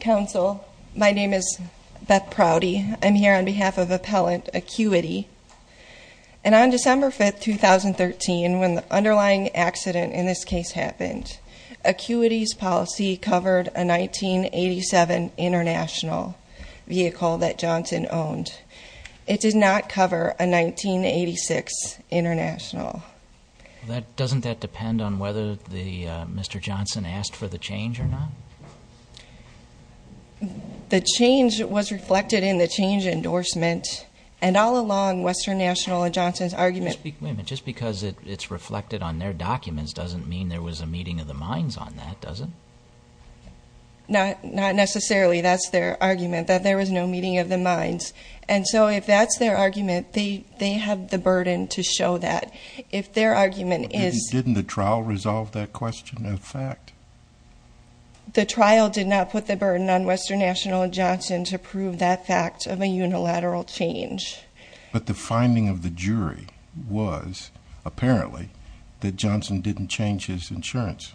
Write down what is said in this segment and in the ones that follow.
Council, my name is Beth Prouty. I'm here on behalf of Appellant ACUITY. And on December 5, 2013, when the underlying accident in this case happened, ACUITY's policy covered a 1987 International vehicle that Johnson owned. It did not cover a 1986 International. Doesn't that depend on whether Mr. Johnson asked for the change or not? The change was reflected in the change endorsement. And all along, Western National and Johnson's argument... Just because it's reflected on their documents doesn't mean there was a meeting of the minds on that, does it? Not necessarily. That's their argument, that there was no meeting of the minds. And so if that's their argument, they have the burden to show that. But didn't the trial resolve that question as fact? The trial did not put the burden on Western National and Johnson to prove that fact of a unilateral change. But the finding of the jury was, apparently, that Johnson didn't change his insurance.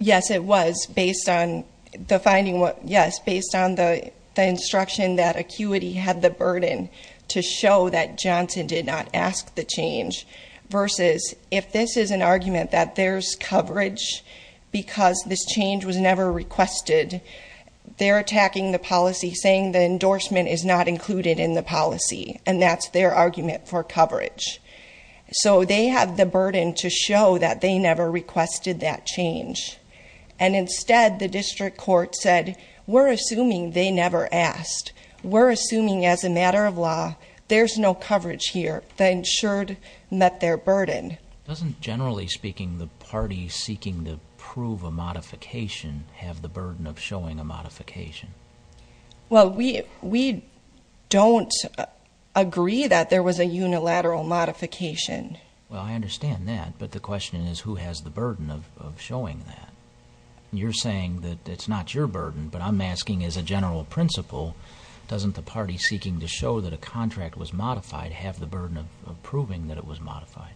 Yes, it was, based on the finding... Yes, based on the instruction that ACUITY had the burden to show that Johnson did not ask the change. Versus, if this is an argument that there's coverage because this change was never requested, they're attacking the policy, saying the endorsement is not included in the policy. And that's their argument for coverage. So they have the burden to show that they never requested that change. And instead, the district court said, we're assuming they never asked. We're assuming, as a matter of law, there's no coverage here. The insured met their burden. Doesn't, generally speaking, the party seeking to prove a modification have the burden of showing a modification? Well, we don't agree that there was a unilateral modification. Well, I understand that, but the question is, who has the burden of showing that? You're saying that it's not your burden, but I'm asking, as a general principle, doesn't the party seeking to show that a contract was modified have the burden of proving that it was modified?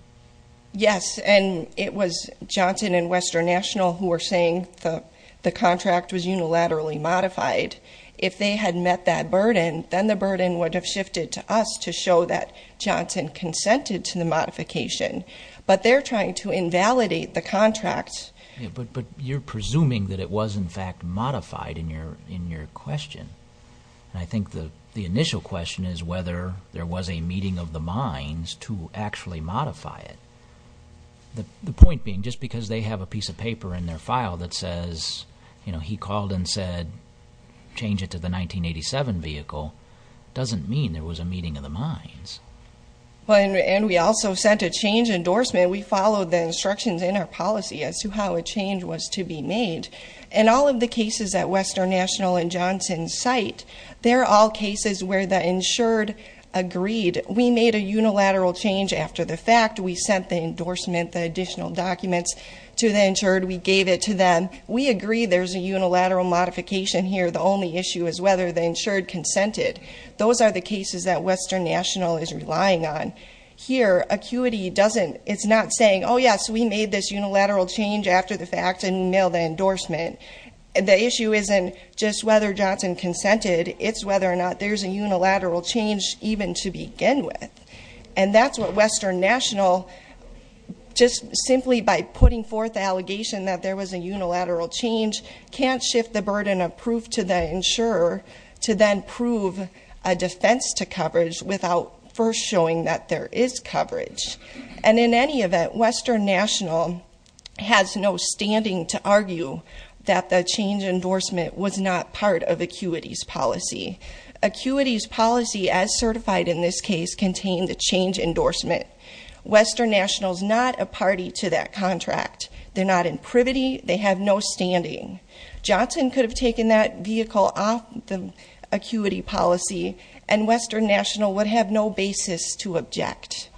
Yes, and it was Johnson and Western National who were saying the contract was unilaterally modified. If they had met that burden, then the burden would have shifted to us to show that Johnson consented to the modification. But they're trying to invalidate the contract. But you're presuming that it was, in fact, modified in your question. I think the initial question is whether there was a meeting of the minds to actually modify it. The point being, just because they have a piece of paper in their file that says, he called and said, change it to the 1987 vehicle, doesn't mean there was a meeting of the minds. And we also sent a change endorsement. We followed the instructions in our policy as to how a change was to be made. And all of the cases at Western National and Johnson's site, they're all cases where the insured agreed. We made a unilateral change after the fact. We sent the endorsement, the additional documents to the insured. We gave it to them. We agree there's a unilateral modification here. The only issue is whether the insured consented. Those are the cases that Western National is relying on. Here, acuity doesn't, it's not saying, yes, we made this unilateral change after the fact and nailed the endorsement. The issue isn't just whether Johnson consented. It's whether or not there's a unilateral change even to begin with. And that's what Western National, just simply by putting forth the allegation that there was a unilateral change, can't shift the burden of proof to the insurer to then prove a defense to coverage without first showing that there is coverage. And in any event, Western National has no standing to argue that the change endorsement was not part of acuity's policy. Acuity's policy, as certified in this case, contained the change endorsement. Western National's not a party to that contract. They're not in privity. They have no standing. Johnson could have taken that vehicle off the acuity policy, and Western National would have no basis to object.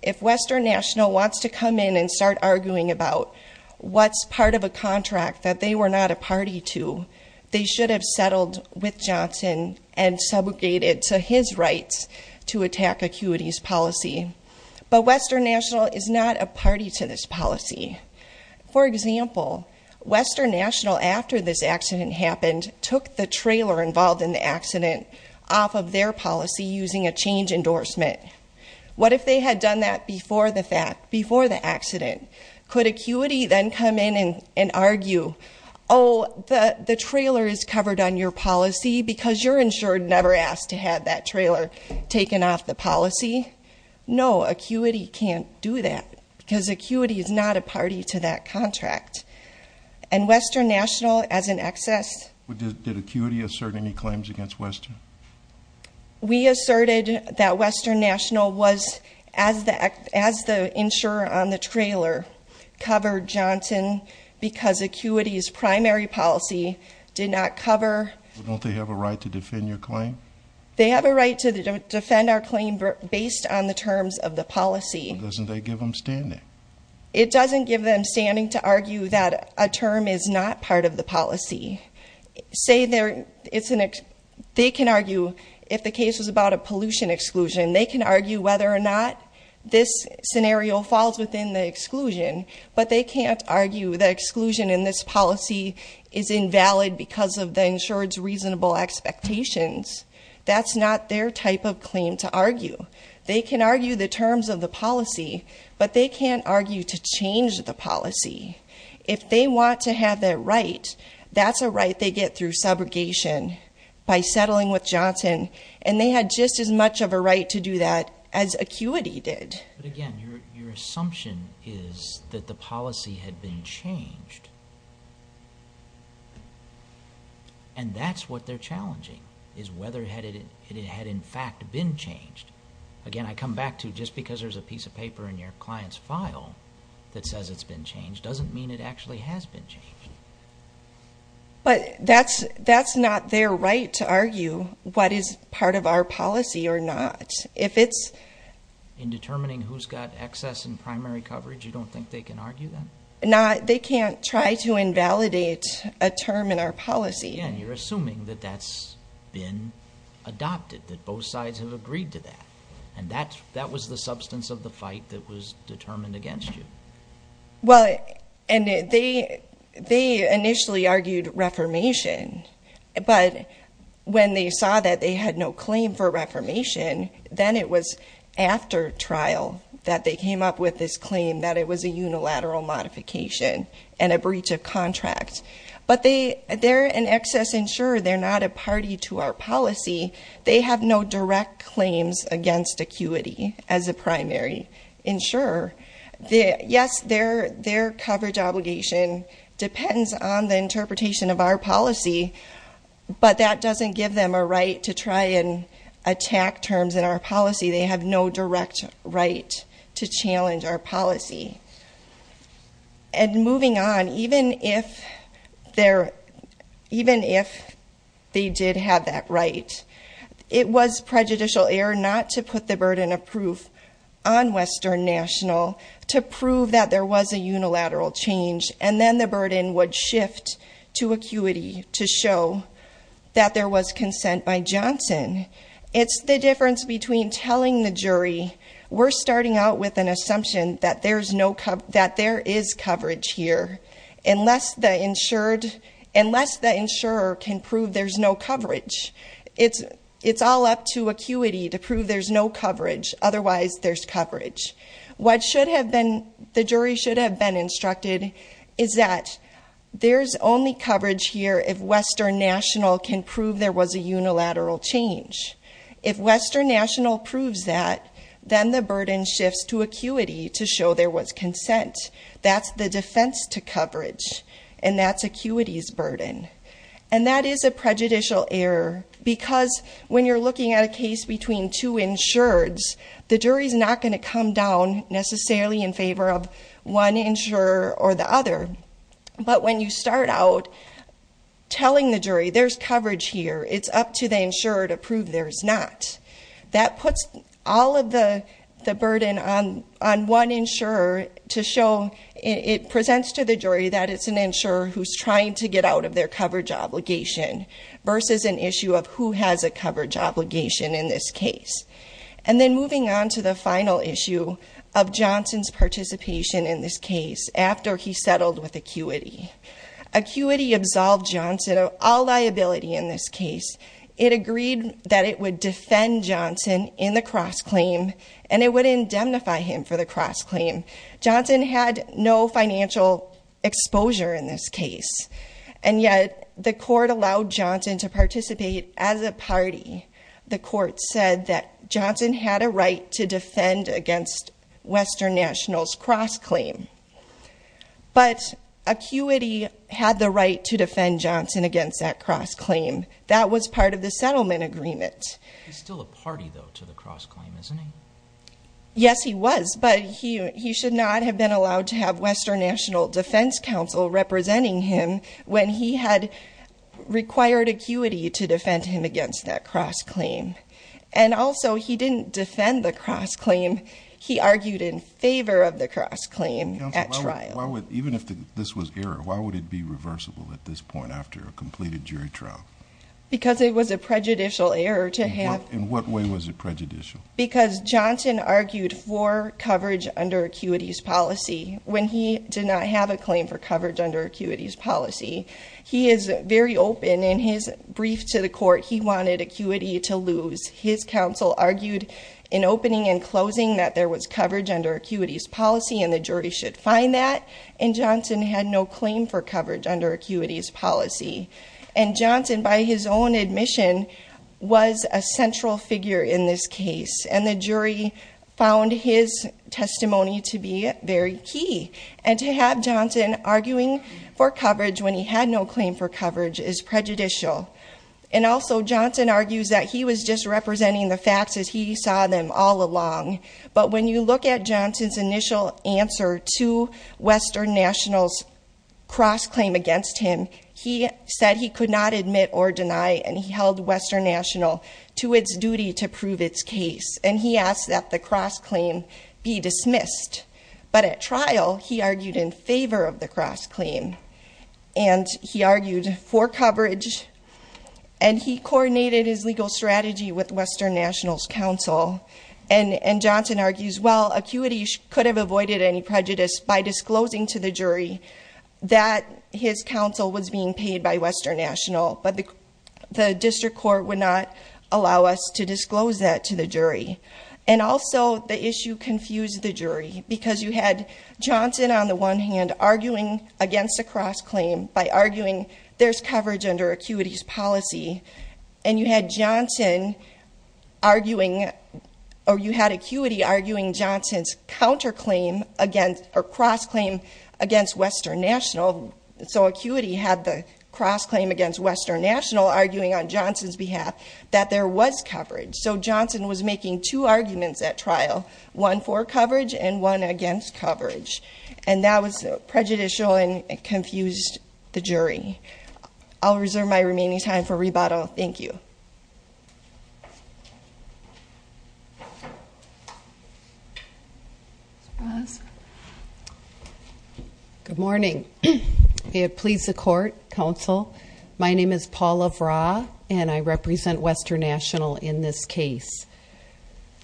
If Western National wants to come in and start arguing about what's part of a contract that they were not a party to, they should have settled with Johnson and subjugated to his rights to attack acuity's policy. But Western National is not a party to this policy. For example, Western National, after this accident happened, took the trailer involved in the accident off of their policy using a change endorsement. What if they had done that before the accident? Could acuity then come in and argue, the trailer is covered on your policy because you're insured and never asked to have that trailer taken off the policy? No, acuity can't do that because acuity is not a party to that contract. And Western National, as an excess- Did acuity assert any claims against Western? We asserted that Western National was, as the insurer on the trailer, covered Johnson because acuity's primary policy did not cover- Don't they have a right to defend your claim? They have a right to defend our claim based on the terms of the policy. But doesn't that give them standing? It doesn't give them standing to argue that a term is not part of the policy. Say they can argue if the case was about a pollution exclusion, they can argue whether or not this scenario falls within the exclusion. But they can't argue that exclusion in this policy is invalid because of the insured's reasonable expectations. That's not their type of claim to argue. They can argue the terms of the policy, but they can't argue to change the policy. If they want to have that right, that's a right they get through subrogation by settling with Johnson. And they had just as much of a right to do that as acuity did. But again, your assumption is that the policy had been changed. And that's what they're challenging, is whether it had in fact been changed. Again, I come back to just because there's a piece of paper in your client's file that says it's been changed doesn't mean it actually has been changed. But that's not their right to argue what is part of our policy or not. If it's- In determining who's got excess in primary coverage, you don't think they can argue that? No, they can't try to invalidate a term in our policy. Yeah, and you're assuming that that's been adopted, that both sides have agreed to that. And that was the substance of the fight that was determined against you. Well, and they initially argued reformation. But when they saw that they had no claim for reformation, then it was after trial that they came up with this claim that it was a unilateral modification and a breach of contract. But they're an excess insurer. They're not a party to our policy. They have no direct claims against acuity as a primary insurer. Yes, their coverage obligation depends on the interpretation of our policy, but that doesn't give them a right to try and attack terms in our policy. They have no direct right to challenge our policy. And moving on, even if they did have that right, it was prejudicial error not to put the burden of proof on Western National to prove that there was a unilateral change. And then the burden would shift to acuity to show that there was consent by Johnson. It's the difference between telling the jury, we're starting out with an assumption that there is coverage here, unless the insurer can prove there's no coverage. It's all up to acuity to prove there's no coverage. Otherwise, there's coverage. What the jury should have been instructed is that there's only coverage here if Western National can prove there was a unilateral change. If Western National proves that, then the burden shifts to acuity to show there was consent. That's the defense to coverage, and that's acuity's burden. And that is a prejudicial error because when you're looking at a case between two insureds, the jury's not going to come down necessarily in favor of one insurer or the other. But when you start out telling the jury there's coverage here, it's up to the insurer to prove there's not. That puts all of the burden on one insurer to show it presents to the jury that it's an insurer who's trying to get out of their coverage obligation versus an issue of who has a coverage obligation in this case. And then moving on to the final issue of Johnson's participation in this case after he settled with acuity. Acuity absolved Johnson of all liability in this case. It agreed that it would defend Johnson in the cross-claim and it would indemnify him for the cross-claim. Johnson had no financial exposure in this case, and yet the court allowed Johnson to participate as a party. The court said that Johnson had a right to defend against Western Nationals' cross-claim. But acuity had the right to defend Johnson against that cross-claim. That was part of the settlement agreement. He's still a party, though, to the cross-claim, isn't he? Yes, he was, but he should not have been allowed to have Western National Defense Council representing him when he had required acuity to defend him against that cross-claim. And also, he didn't defend the cross-claim. He argued in favor of the cross-claim at trial. Even if this was error, why would it be reversible at this point after a completed jury trial? Because it was a prejudicial error to have. In what way was it prejudicial? Because Johnson argued for coverage under acuity's policy when he did not have a claim for coverage under acuity's policy. He is very open in his brief to the court. He wanted acuity to lose. His counsel argued in opening and closing that there was coverage under acuity's policy and the jury should find that, and Johnson had no claim for coverage under acuity's policy. And Johnson, by his own admission, was a central figure in this case and the jury found his testimony to be very key. And to have Johnson arguing for coverage when he had no claim for coverage is prejudicial. And also, Johnson argues that he was just representing the facts as he saw them all along. But when you look at Johnson's initial answer to Western National's cross-claim against him, he said he could not admit or deny, and he held Western National to its duty to prove its case, and he asked that the cross-claim be dismissed. But at trial, he argued in favor of the cross-claim, and he argued for coverage, and he coordinated his legal strategy with Western National's counsel. And Johnson argues, well, acuity could have avoided any prejudice by disclosing to the jury that his counsel was being paid by Western National, but the district court would not allow us to disclose that to the jury. And also, the issue confused the jury because you had Johnson, on the one hand, arguing against a cross-claim by arguing there's coverage under acuity's policy, and you had Johnson arguing, or you had acuity arguing Johnson's cross-claim against Western National. So acuity had the cross-claim against Western National arguing on Johnson's behalf that there was coverage. So Johnson was making two arguments at trial, one for coverage and one against coverage, and that was prejudicial and confused the jury. I'll reserve my remaining time for rebuttal. Thank you. Ms. Ross. Good morning. May it please the court, counsel, my name is Paula Vraa, and I represent Western National in this case.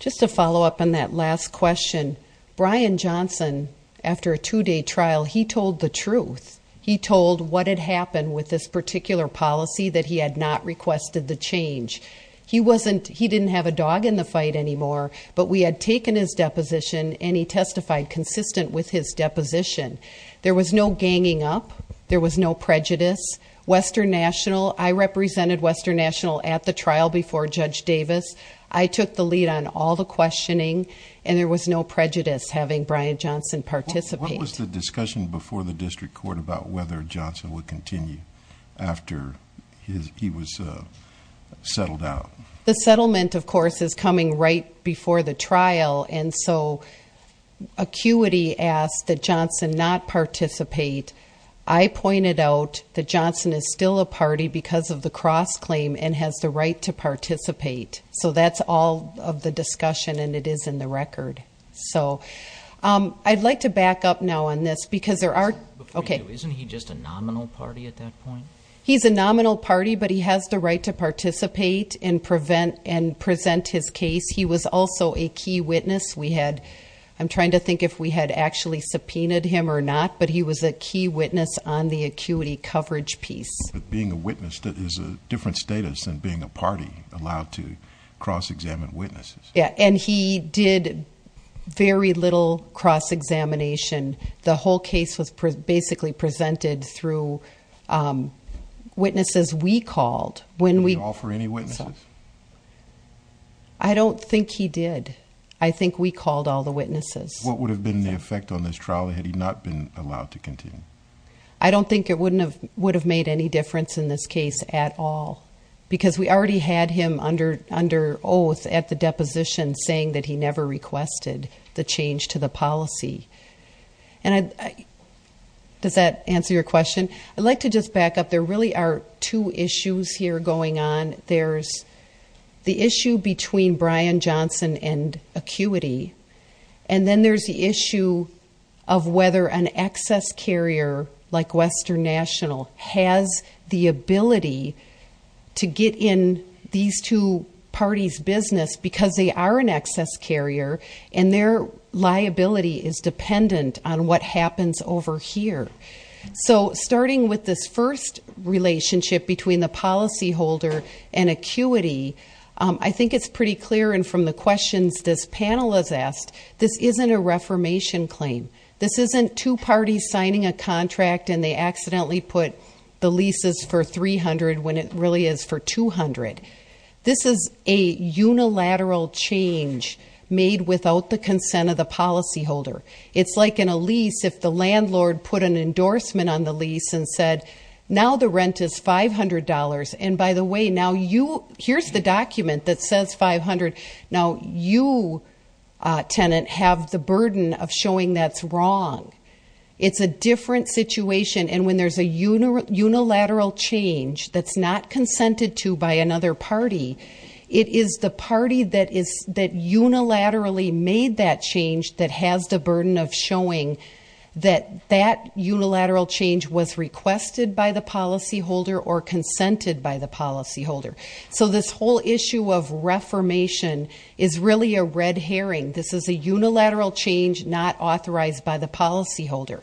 Just to follow up on that last question, Brian Johnson, after a two-day trial, he told the truth. He told what had happened with this particular policy, that he had not requested the change. He didn't have a dog in the fight anymore, but we had taken his deposition, and he testified consistent with his deposition. There was no ganging up, there was no prejudice. Western National, I represented Western National at the trial before Judge Davis. I took the lead on all the questioning, and there was no prejudice having Brian Johnson participate. What was the discussion before the district court about whether Johnson would continue after he was settled out? The settlement, of course, is coming right before the trial, and so acuity asked that Johnson not participate. I pointed out that Johnson is still a party because of the cross-claim and has the right to participate. So that's all of the discussion, and it is in the record. So I'd like to back up now on this because there are, okay. Isn't he just a nominal party at that point? He's a nominal party, but he has the right to participate and present his case. He was also a key witness. I'm trying to think if we had actually subpoenaed him or not, but he was a key witness on the acuity coverage piece. But being a witness is a different status than being a party allowed to cross-examine witnesses. Yeah, and he did very little cross-examination. The whole case was basically presented through witnesses we called. Did he call for any witnesses? I don't think he did. I think we called all the witnesses. What would have been the effect on this trial had he not been allowed to continue? I don't think it would have made any difference in this case at all because we already had him under oath at the deposition saying that he never requested the change to the policy. Does that answer your question? I'd like to just back up. There really are two issues here going on. There's the issue between Brian Johnson and acuity, and then there's the issue of whether an access carrier like Western National has the ability to get in these two parties' business because they are an access carrier and their liability is dependent on what happens over here. So starting with this first relationship between the policyholder and acuity, I think it's pretty clear, and from the questions this panel has asked, this isn't a reformation claim. This isn't two parties signing a contract and they accidentally put the leases for $300 when it really is for $200. This is a unilateral change made without the consent of the policyholder. It's like in a lease, if the landlord put an endorsement on the lease and said, now the rent is $500, and by the way, now here's the document that says $500. Now you, tenant, have the burden of showing that's wrong. It's a different situation, and when there's a unilateral change that's not consented to by another party, it is the party that unilaterally made that change that has the burden of showing that that unilateral change was requested by the policyholder or consented by the policyholder. So this whole issue of reformation is really a red herring. This is a unilateral change not authorized by the policyholder.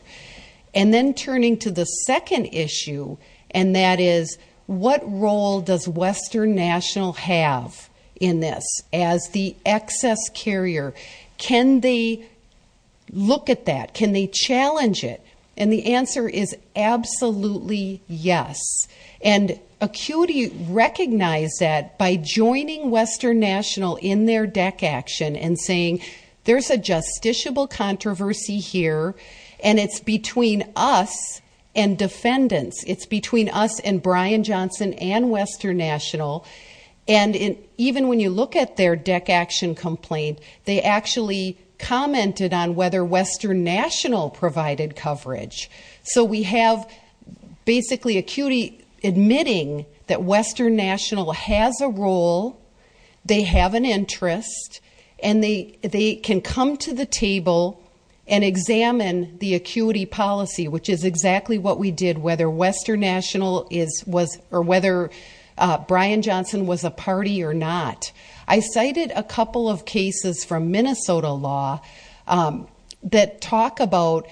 And then turning to the second issue, and that is, what role does Western National have in this as the excess carrier? Can they look at that? Can they challenge it? And the answer is absolutely yes. And ACUITY recognized that by joining Western National in their DEC action and saying there's a justiciable controversy here and it's between us and defendants. It's between us and Brian Johnson and Western National. And even when you look at their DEC action complaint, they actually commented on whether Western National provided coverage. So we have basically ACUITY admitting that Western National has a role, they have an interest, and they can come to the table and examine the ACUITY policy, which is exactly what we did whether Western National is or whether Brian Johnson was a party or not. I cited a couple of cases from Minnesota law that talk about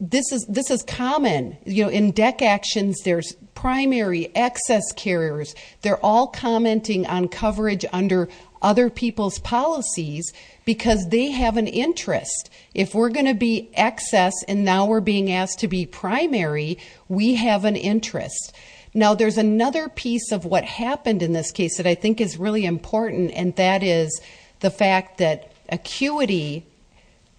this is common. In DEC actions, there's primary excess carriers. They're all commenting on coverage under other people's policies because they have an interest. If we're going to be excess and now we're being asked to be primary, we have an interest. Now there's another piece of what happened in this case that I think is really important, and that is the fact that ACUITY,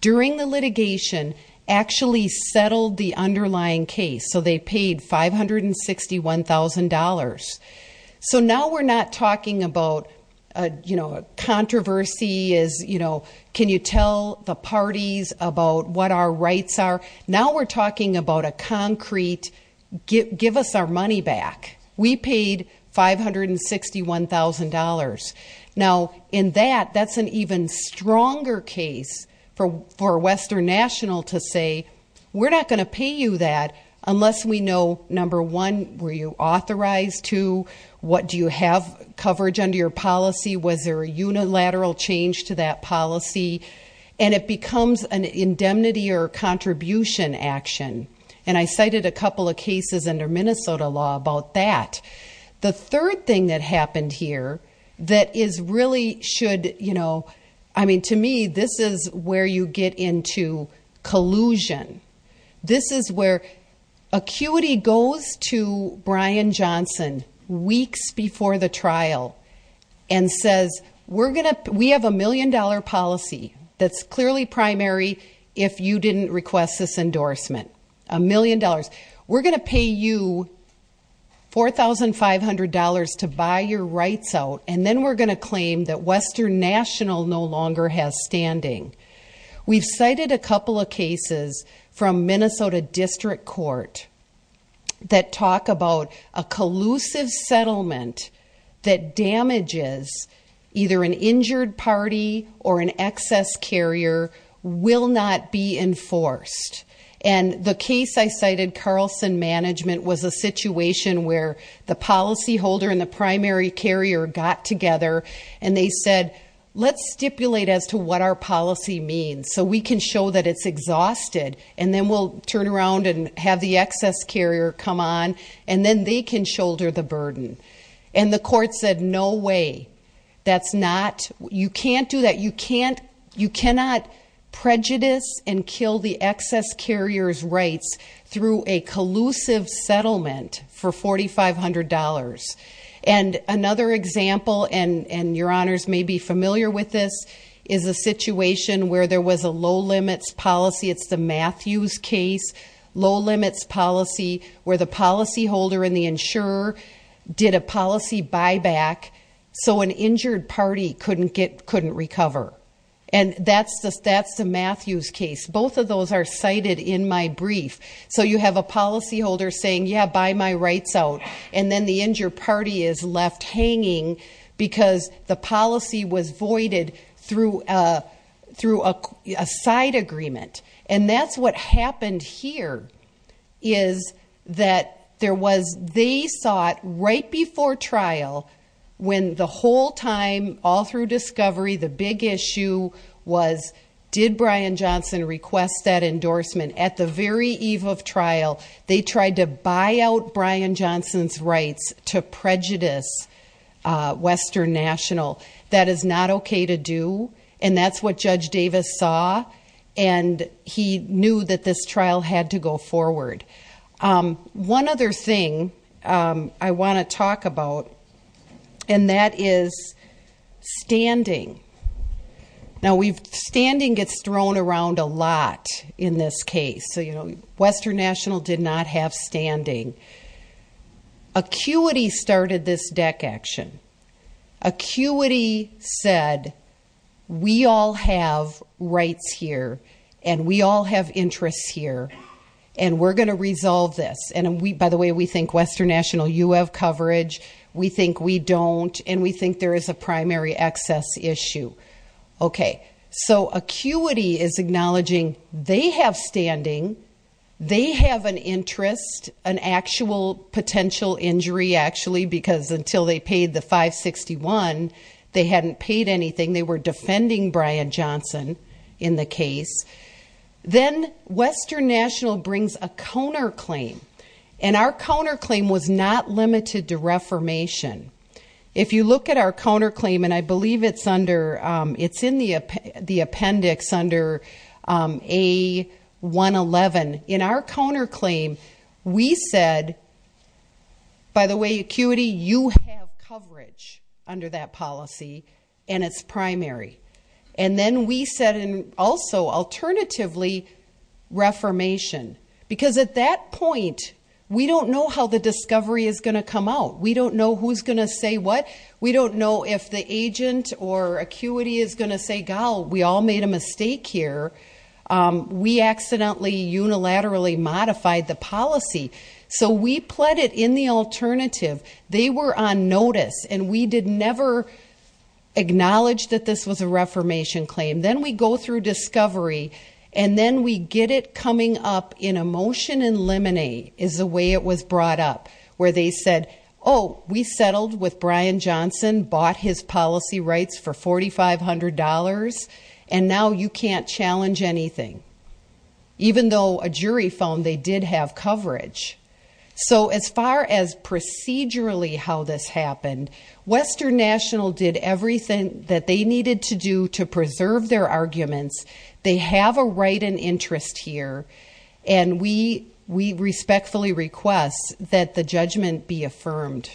during the litigation, actually settled the underlying case. So they paid $561,000. So now we're not talking about controversy as, you know, can you tell the parties about what our rights are? Now we're talking about a concrete give us our money back. We paid $561,000. Now in that, that's an even stronger case for Western National to say, we're not going to pay you that unless we know, number one, were you authorized to? What do you have coverage under your policy? Was there a unilateral change to that policy? And it becomes an indemnity or contribution action. And I cited a couple of cases under Minnesota law about that. The third thing that happened here that is really should, you know, I mean, to me, this is where you get into collusion. This is where ACUITY goes to Brian Johnson weeks before the trial and says, we have a million-dollar policy that's clearly primary if you didn't request this endorsement, a million dollars. We're going to pay you $4,500 to buy your rights out, and then we're going to claim that Western National no longer has standing. We've cited a couple of cases from Minnesota District Court that talk about a collusive settlement that damages either an injured party or an excess carrier will not be enforced. And the case I cited, Carlson Management, was a situation where the policyholder and the primary carrier got together, and they said, let's stipulate as to what our policy means so we can show that it's exhausted, and then we'll turn around and have the excess carrier come on, and then they can shoulder the burden. And the court said, no way, that's not, you can't do that. You cannot prejudice and kill the excess carrier's rights through a collusive settlement for $4,500. And another example, and your honors may be familiar with this, is a situation where there was a low-limits policy, it's the Matthews case, low-limits policy where the policyholder and the insurer did a policy buyback so an injured party couldn't recover. And that's the Matthews case. Both of those are cited in my brief. So you have a policyholder saying, yeah, buy my rights out, and then the injured party is left hanging because the policy was voided through a side agreement. And that's what happened here is that there was, they saw it right before trial when the whole time, all through discovery, the big issue was did Brian Johnson request that endorsement. At the very eve of trial, they tried to buy out Brian Johnson's rights to prejudice Western National. That is not okay to do, and that's what Judge Davis saw, and he knew that this trial had to go forward. One other thing I want to talk about, and that is standing. Now, standing gets thrown around a lot in this case. Western National did not have standing. ACUITY started this deck action. ACUITY said, we all have rights here, and we all have interests here, and we're going to resolve this. And, by the way, we think Western National, you have coverage. We think we don't, and we think there is a primary excess issue. Okay, so ACUITY is acknowledging they have standing. They have an interest, an actual potential injury, actually, because until they paid the 561, they hadn't paid anything. They were defending Brian Johnson in the case. Then Western National brings a counterclaim, and our counterclaim was not limited to reformation. If you look at our counterclaim, and I believe it's in the appendix under A111. In our counterclaim, we said, by the way, ACUITY, you have coverage under that policy, and it's primary. And then we said, and also, alternatively, reformation. Because at that point, we don't know how the discovery is going to come out. We don't know who's going to say what. We don't know if the agent or ACUITY is going to say, gal, we all made a mistake here. We accidentally unilaterally modified the policy. So we pled it in the alternative. They were on notice, and we did never acknowledge that this was a reformation claim. Then we go through discovery, and then we get it coming up in a motion in limine is the way it was brought up, where they said, oh, we settled with Brian Johnson, bought his policy rights for $4,500, and now you can't challenge anything. Even though a jury found they did have coverage. So as far as procedurally how this happened, Western National did everything that they needed to do to preserve their arguments. They have a right and interest here, and we respectfully request that the judgment be affirmed.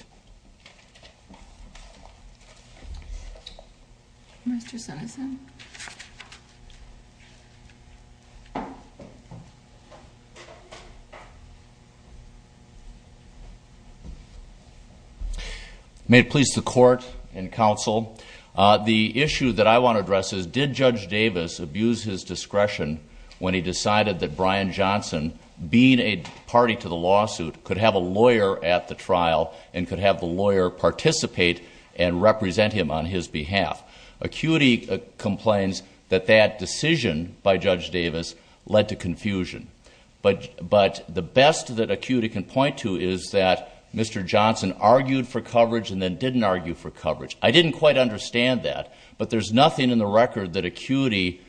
Mr. Senneson. May it please the court and counsel, the issue that I want to address is did Judge Davis abuse his discretion when he decided that Brian Johnson, being a party to the lawsuit, could have a lawyer at the trial and could have the lawyer participate and represent him on his behalf? ACUITY complains that that decision by Judge Davis led to confusion. But the best that ACUITY can point to is that Mr. Johnson argued for coverage and then didn't argue for coverage. I didn't quite understand that, but there's nothing in the record that ACUITY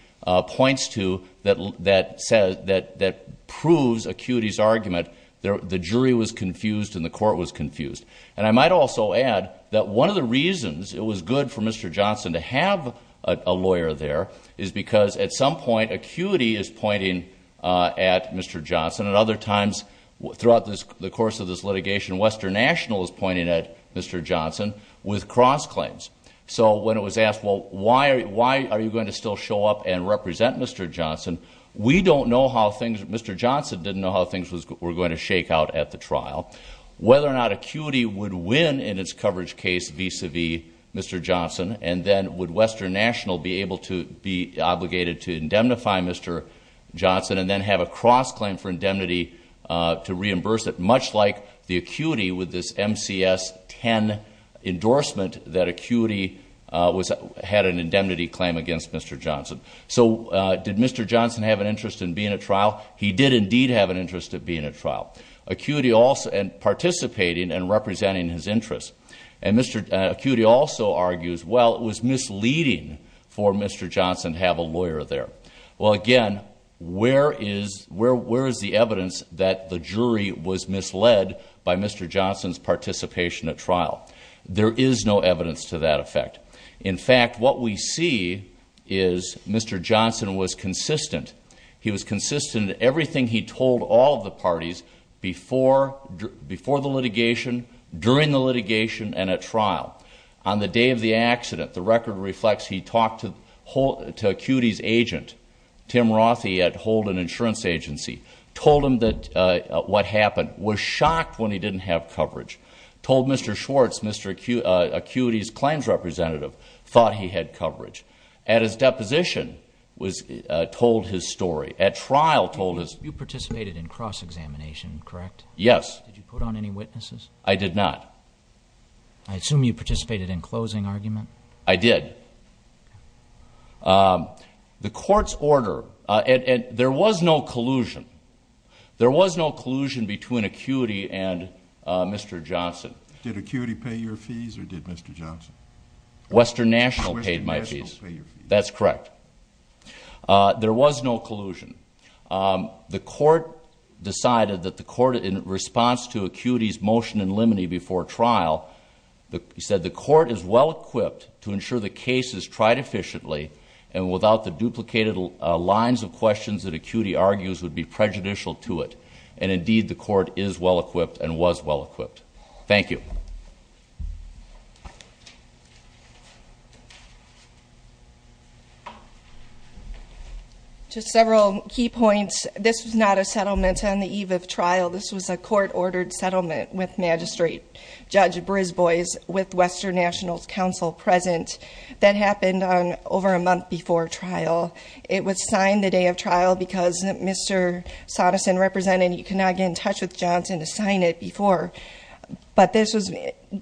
points to that proves ACUITY's argument that the jury was confused and the court was confused. And I might also add that one of the reasons it was good for Mr. Johnson to have a lawyer there is because at some point ACUITY is pointing at Mr. Johnson, and other times throughout the course of this litigation, Western National is pointing at Mr. Johnson with cross-claims. So when it was asked, well, why are you going to still show up and represent Mr. Johnson? We don't know how things, Mr. Johnson didn't know how things were going to shake out at the trial. Whether or not ACUITY would win in its coverage case vis-à-vis Mr. Johnson, and then would Western National be able to be obligated to indemnify Mr. Johnson and then have a cross-claim for indemnity to reimburse it, much like the ACUITY with this MCS-10 endorsement that ACUITY had an indemnity claim against Mr. Johnson. So did Mr. Johnson have an interest in being at trial? He did indeed have an interest in being at trial, participating and representing his interests. And ACUITY also argues, well, it was misleading for Mr. Johnson to have a lawyer there. Well, again, where is the evidence that the jury was misled by Mr. Johnson's participation at trial? There is no evidence to that effect. In fact, what we see is Mr. Johnson was consistent. He was consistent in everything he told all of the parties before the litigation, during the litigation, and at trial. On the day of the accident, the record reflects he talked to ACUITY's agent, Tim Rothey at Holden Insurance Agency, told him what happened, was shocked when he didn't have coverage, told Mr. Schwartz, Mr. ACUITY's claims representative, thought he had coverage. At his deposition, told his story. At trial, told his story. You participated in cross-examination, correct? Yes. Did you put on any witnesses? I did not. I assume you participated in closing argument? I did. The court's order, there was no collusion. There was no collusion between ACUITY and Mr. Johnson. Did ACUITY pay your fees or did Mr. Johnson? Western National paid my fees. Western National paid your fees. That's correct. There was no collusion. The court decided that the court, in response to ACUITY's motion in limine before trial, said the court is well-equipped to ensure the case is tried efficiently, and without the duplicated lines of questions that ACUITY argues would be prejudicial to it. And indeed, the court is well-equipped and was well-equipped. Thank you. Just several key points. This was not a settlement on the eve of trial. This was a court-ordered settlement with Magistrate Judge Brisbois, with Western National's counsel present. That happened over a month before trial. It was signed the day of trial because Mr. Sondersen represented, and you cannot get in touch with Johnson to sign it before. But this was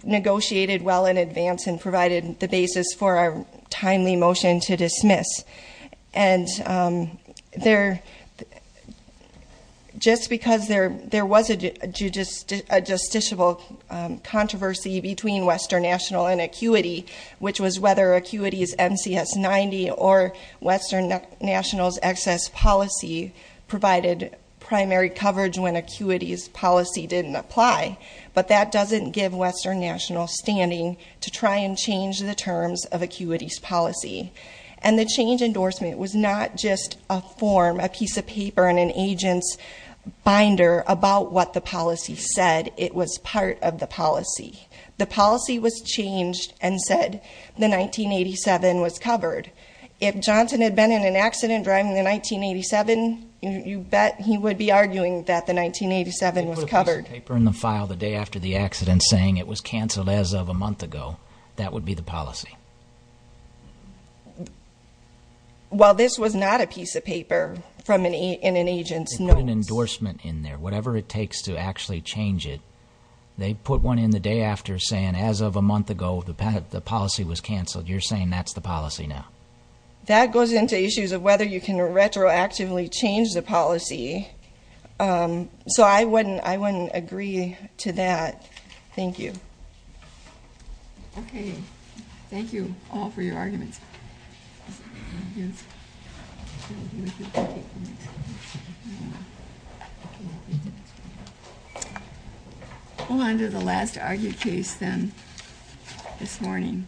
negotiated well in advance and provided the basis for a timely motion to dismiss. And just because there was a justiciable controversy between Western National and ACUITY, which was whether ACUITY's NCS 90 or Western National's excess policy provided primary coverage when ACUITY's policy didn't apply, but that doesn't give Western National standing to try and change the terms of ACUITY's policy. And the change endorsement was not just a form, a piece of paper, and an agent's binder about what the policy said. It was part of the policy. The policy was changed and said the 1987 was covered. If Johnson had been in an accident driving the 1987, you bet he would be arguing that the 1987 was covered. He put this paper in the file the day after the accident saying it was canceled as of a month ago. That would be the policy. Well, this was not a piece of paper in an agent's notes. They put an endorsement in there, whatever it takes to actually change it. They put one in the day after saying, as of a month ago, the policy was canceled. You're saying that's the policy now? That goes into issues of whether you can retroactively change the policy. So I wouldn't agree to that. Thank you. Okay. Thank you all for your arguments. We'll go on to the last argued case then this morning.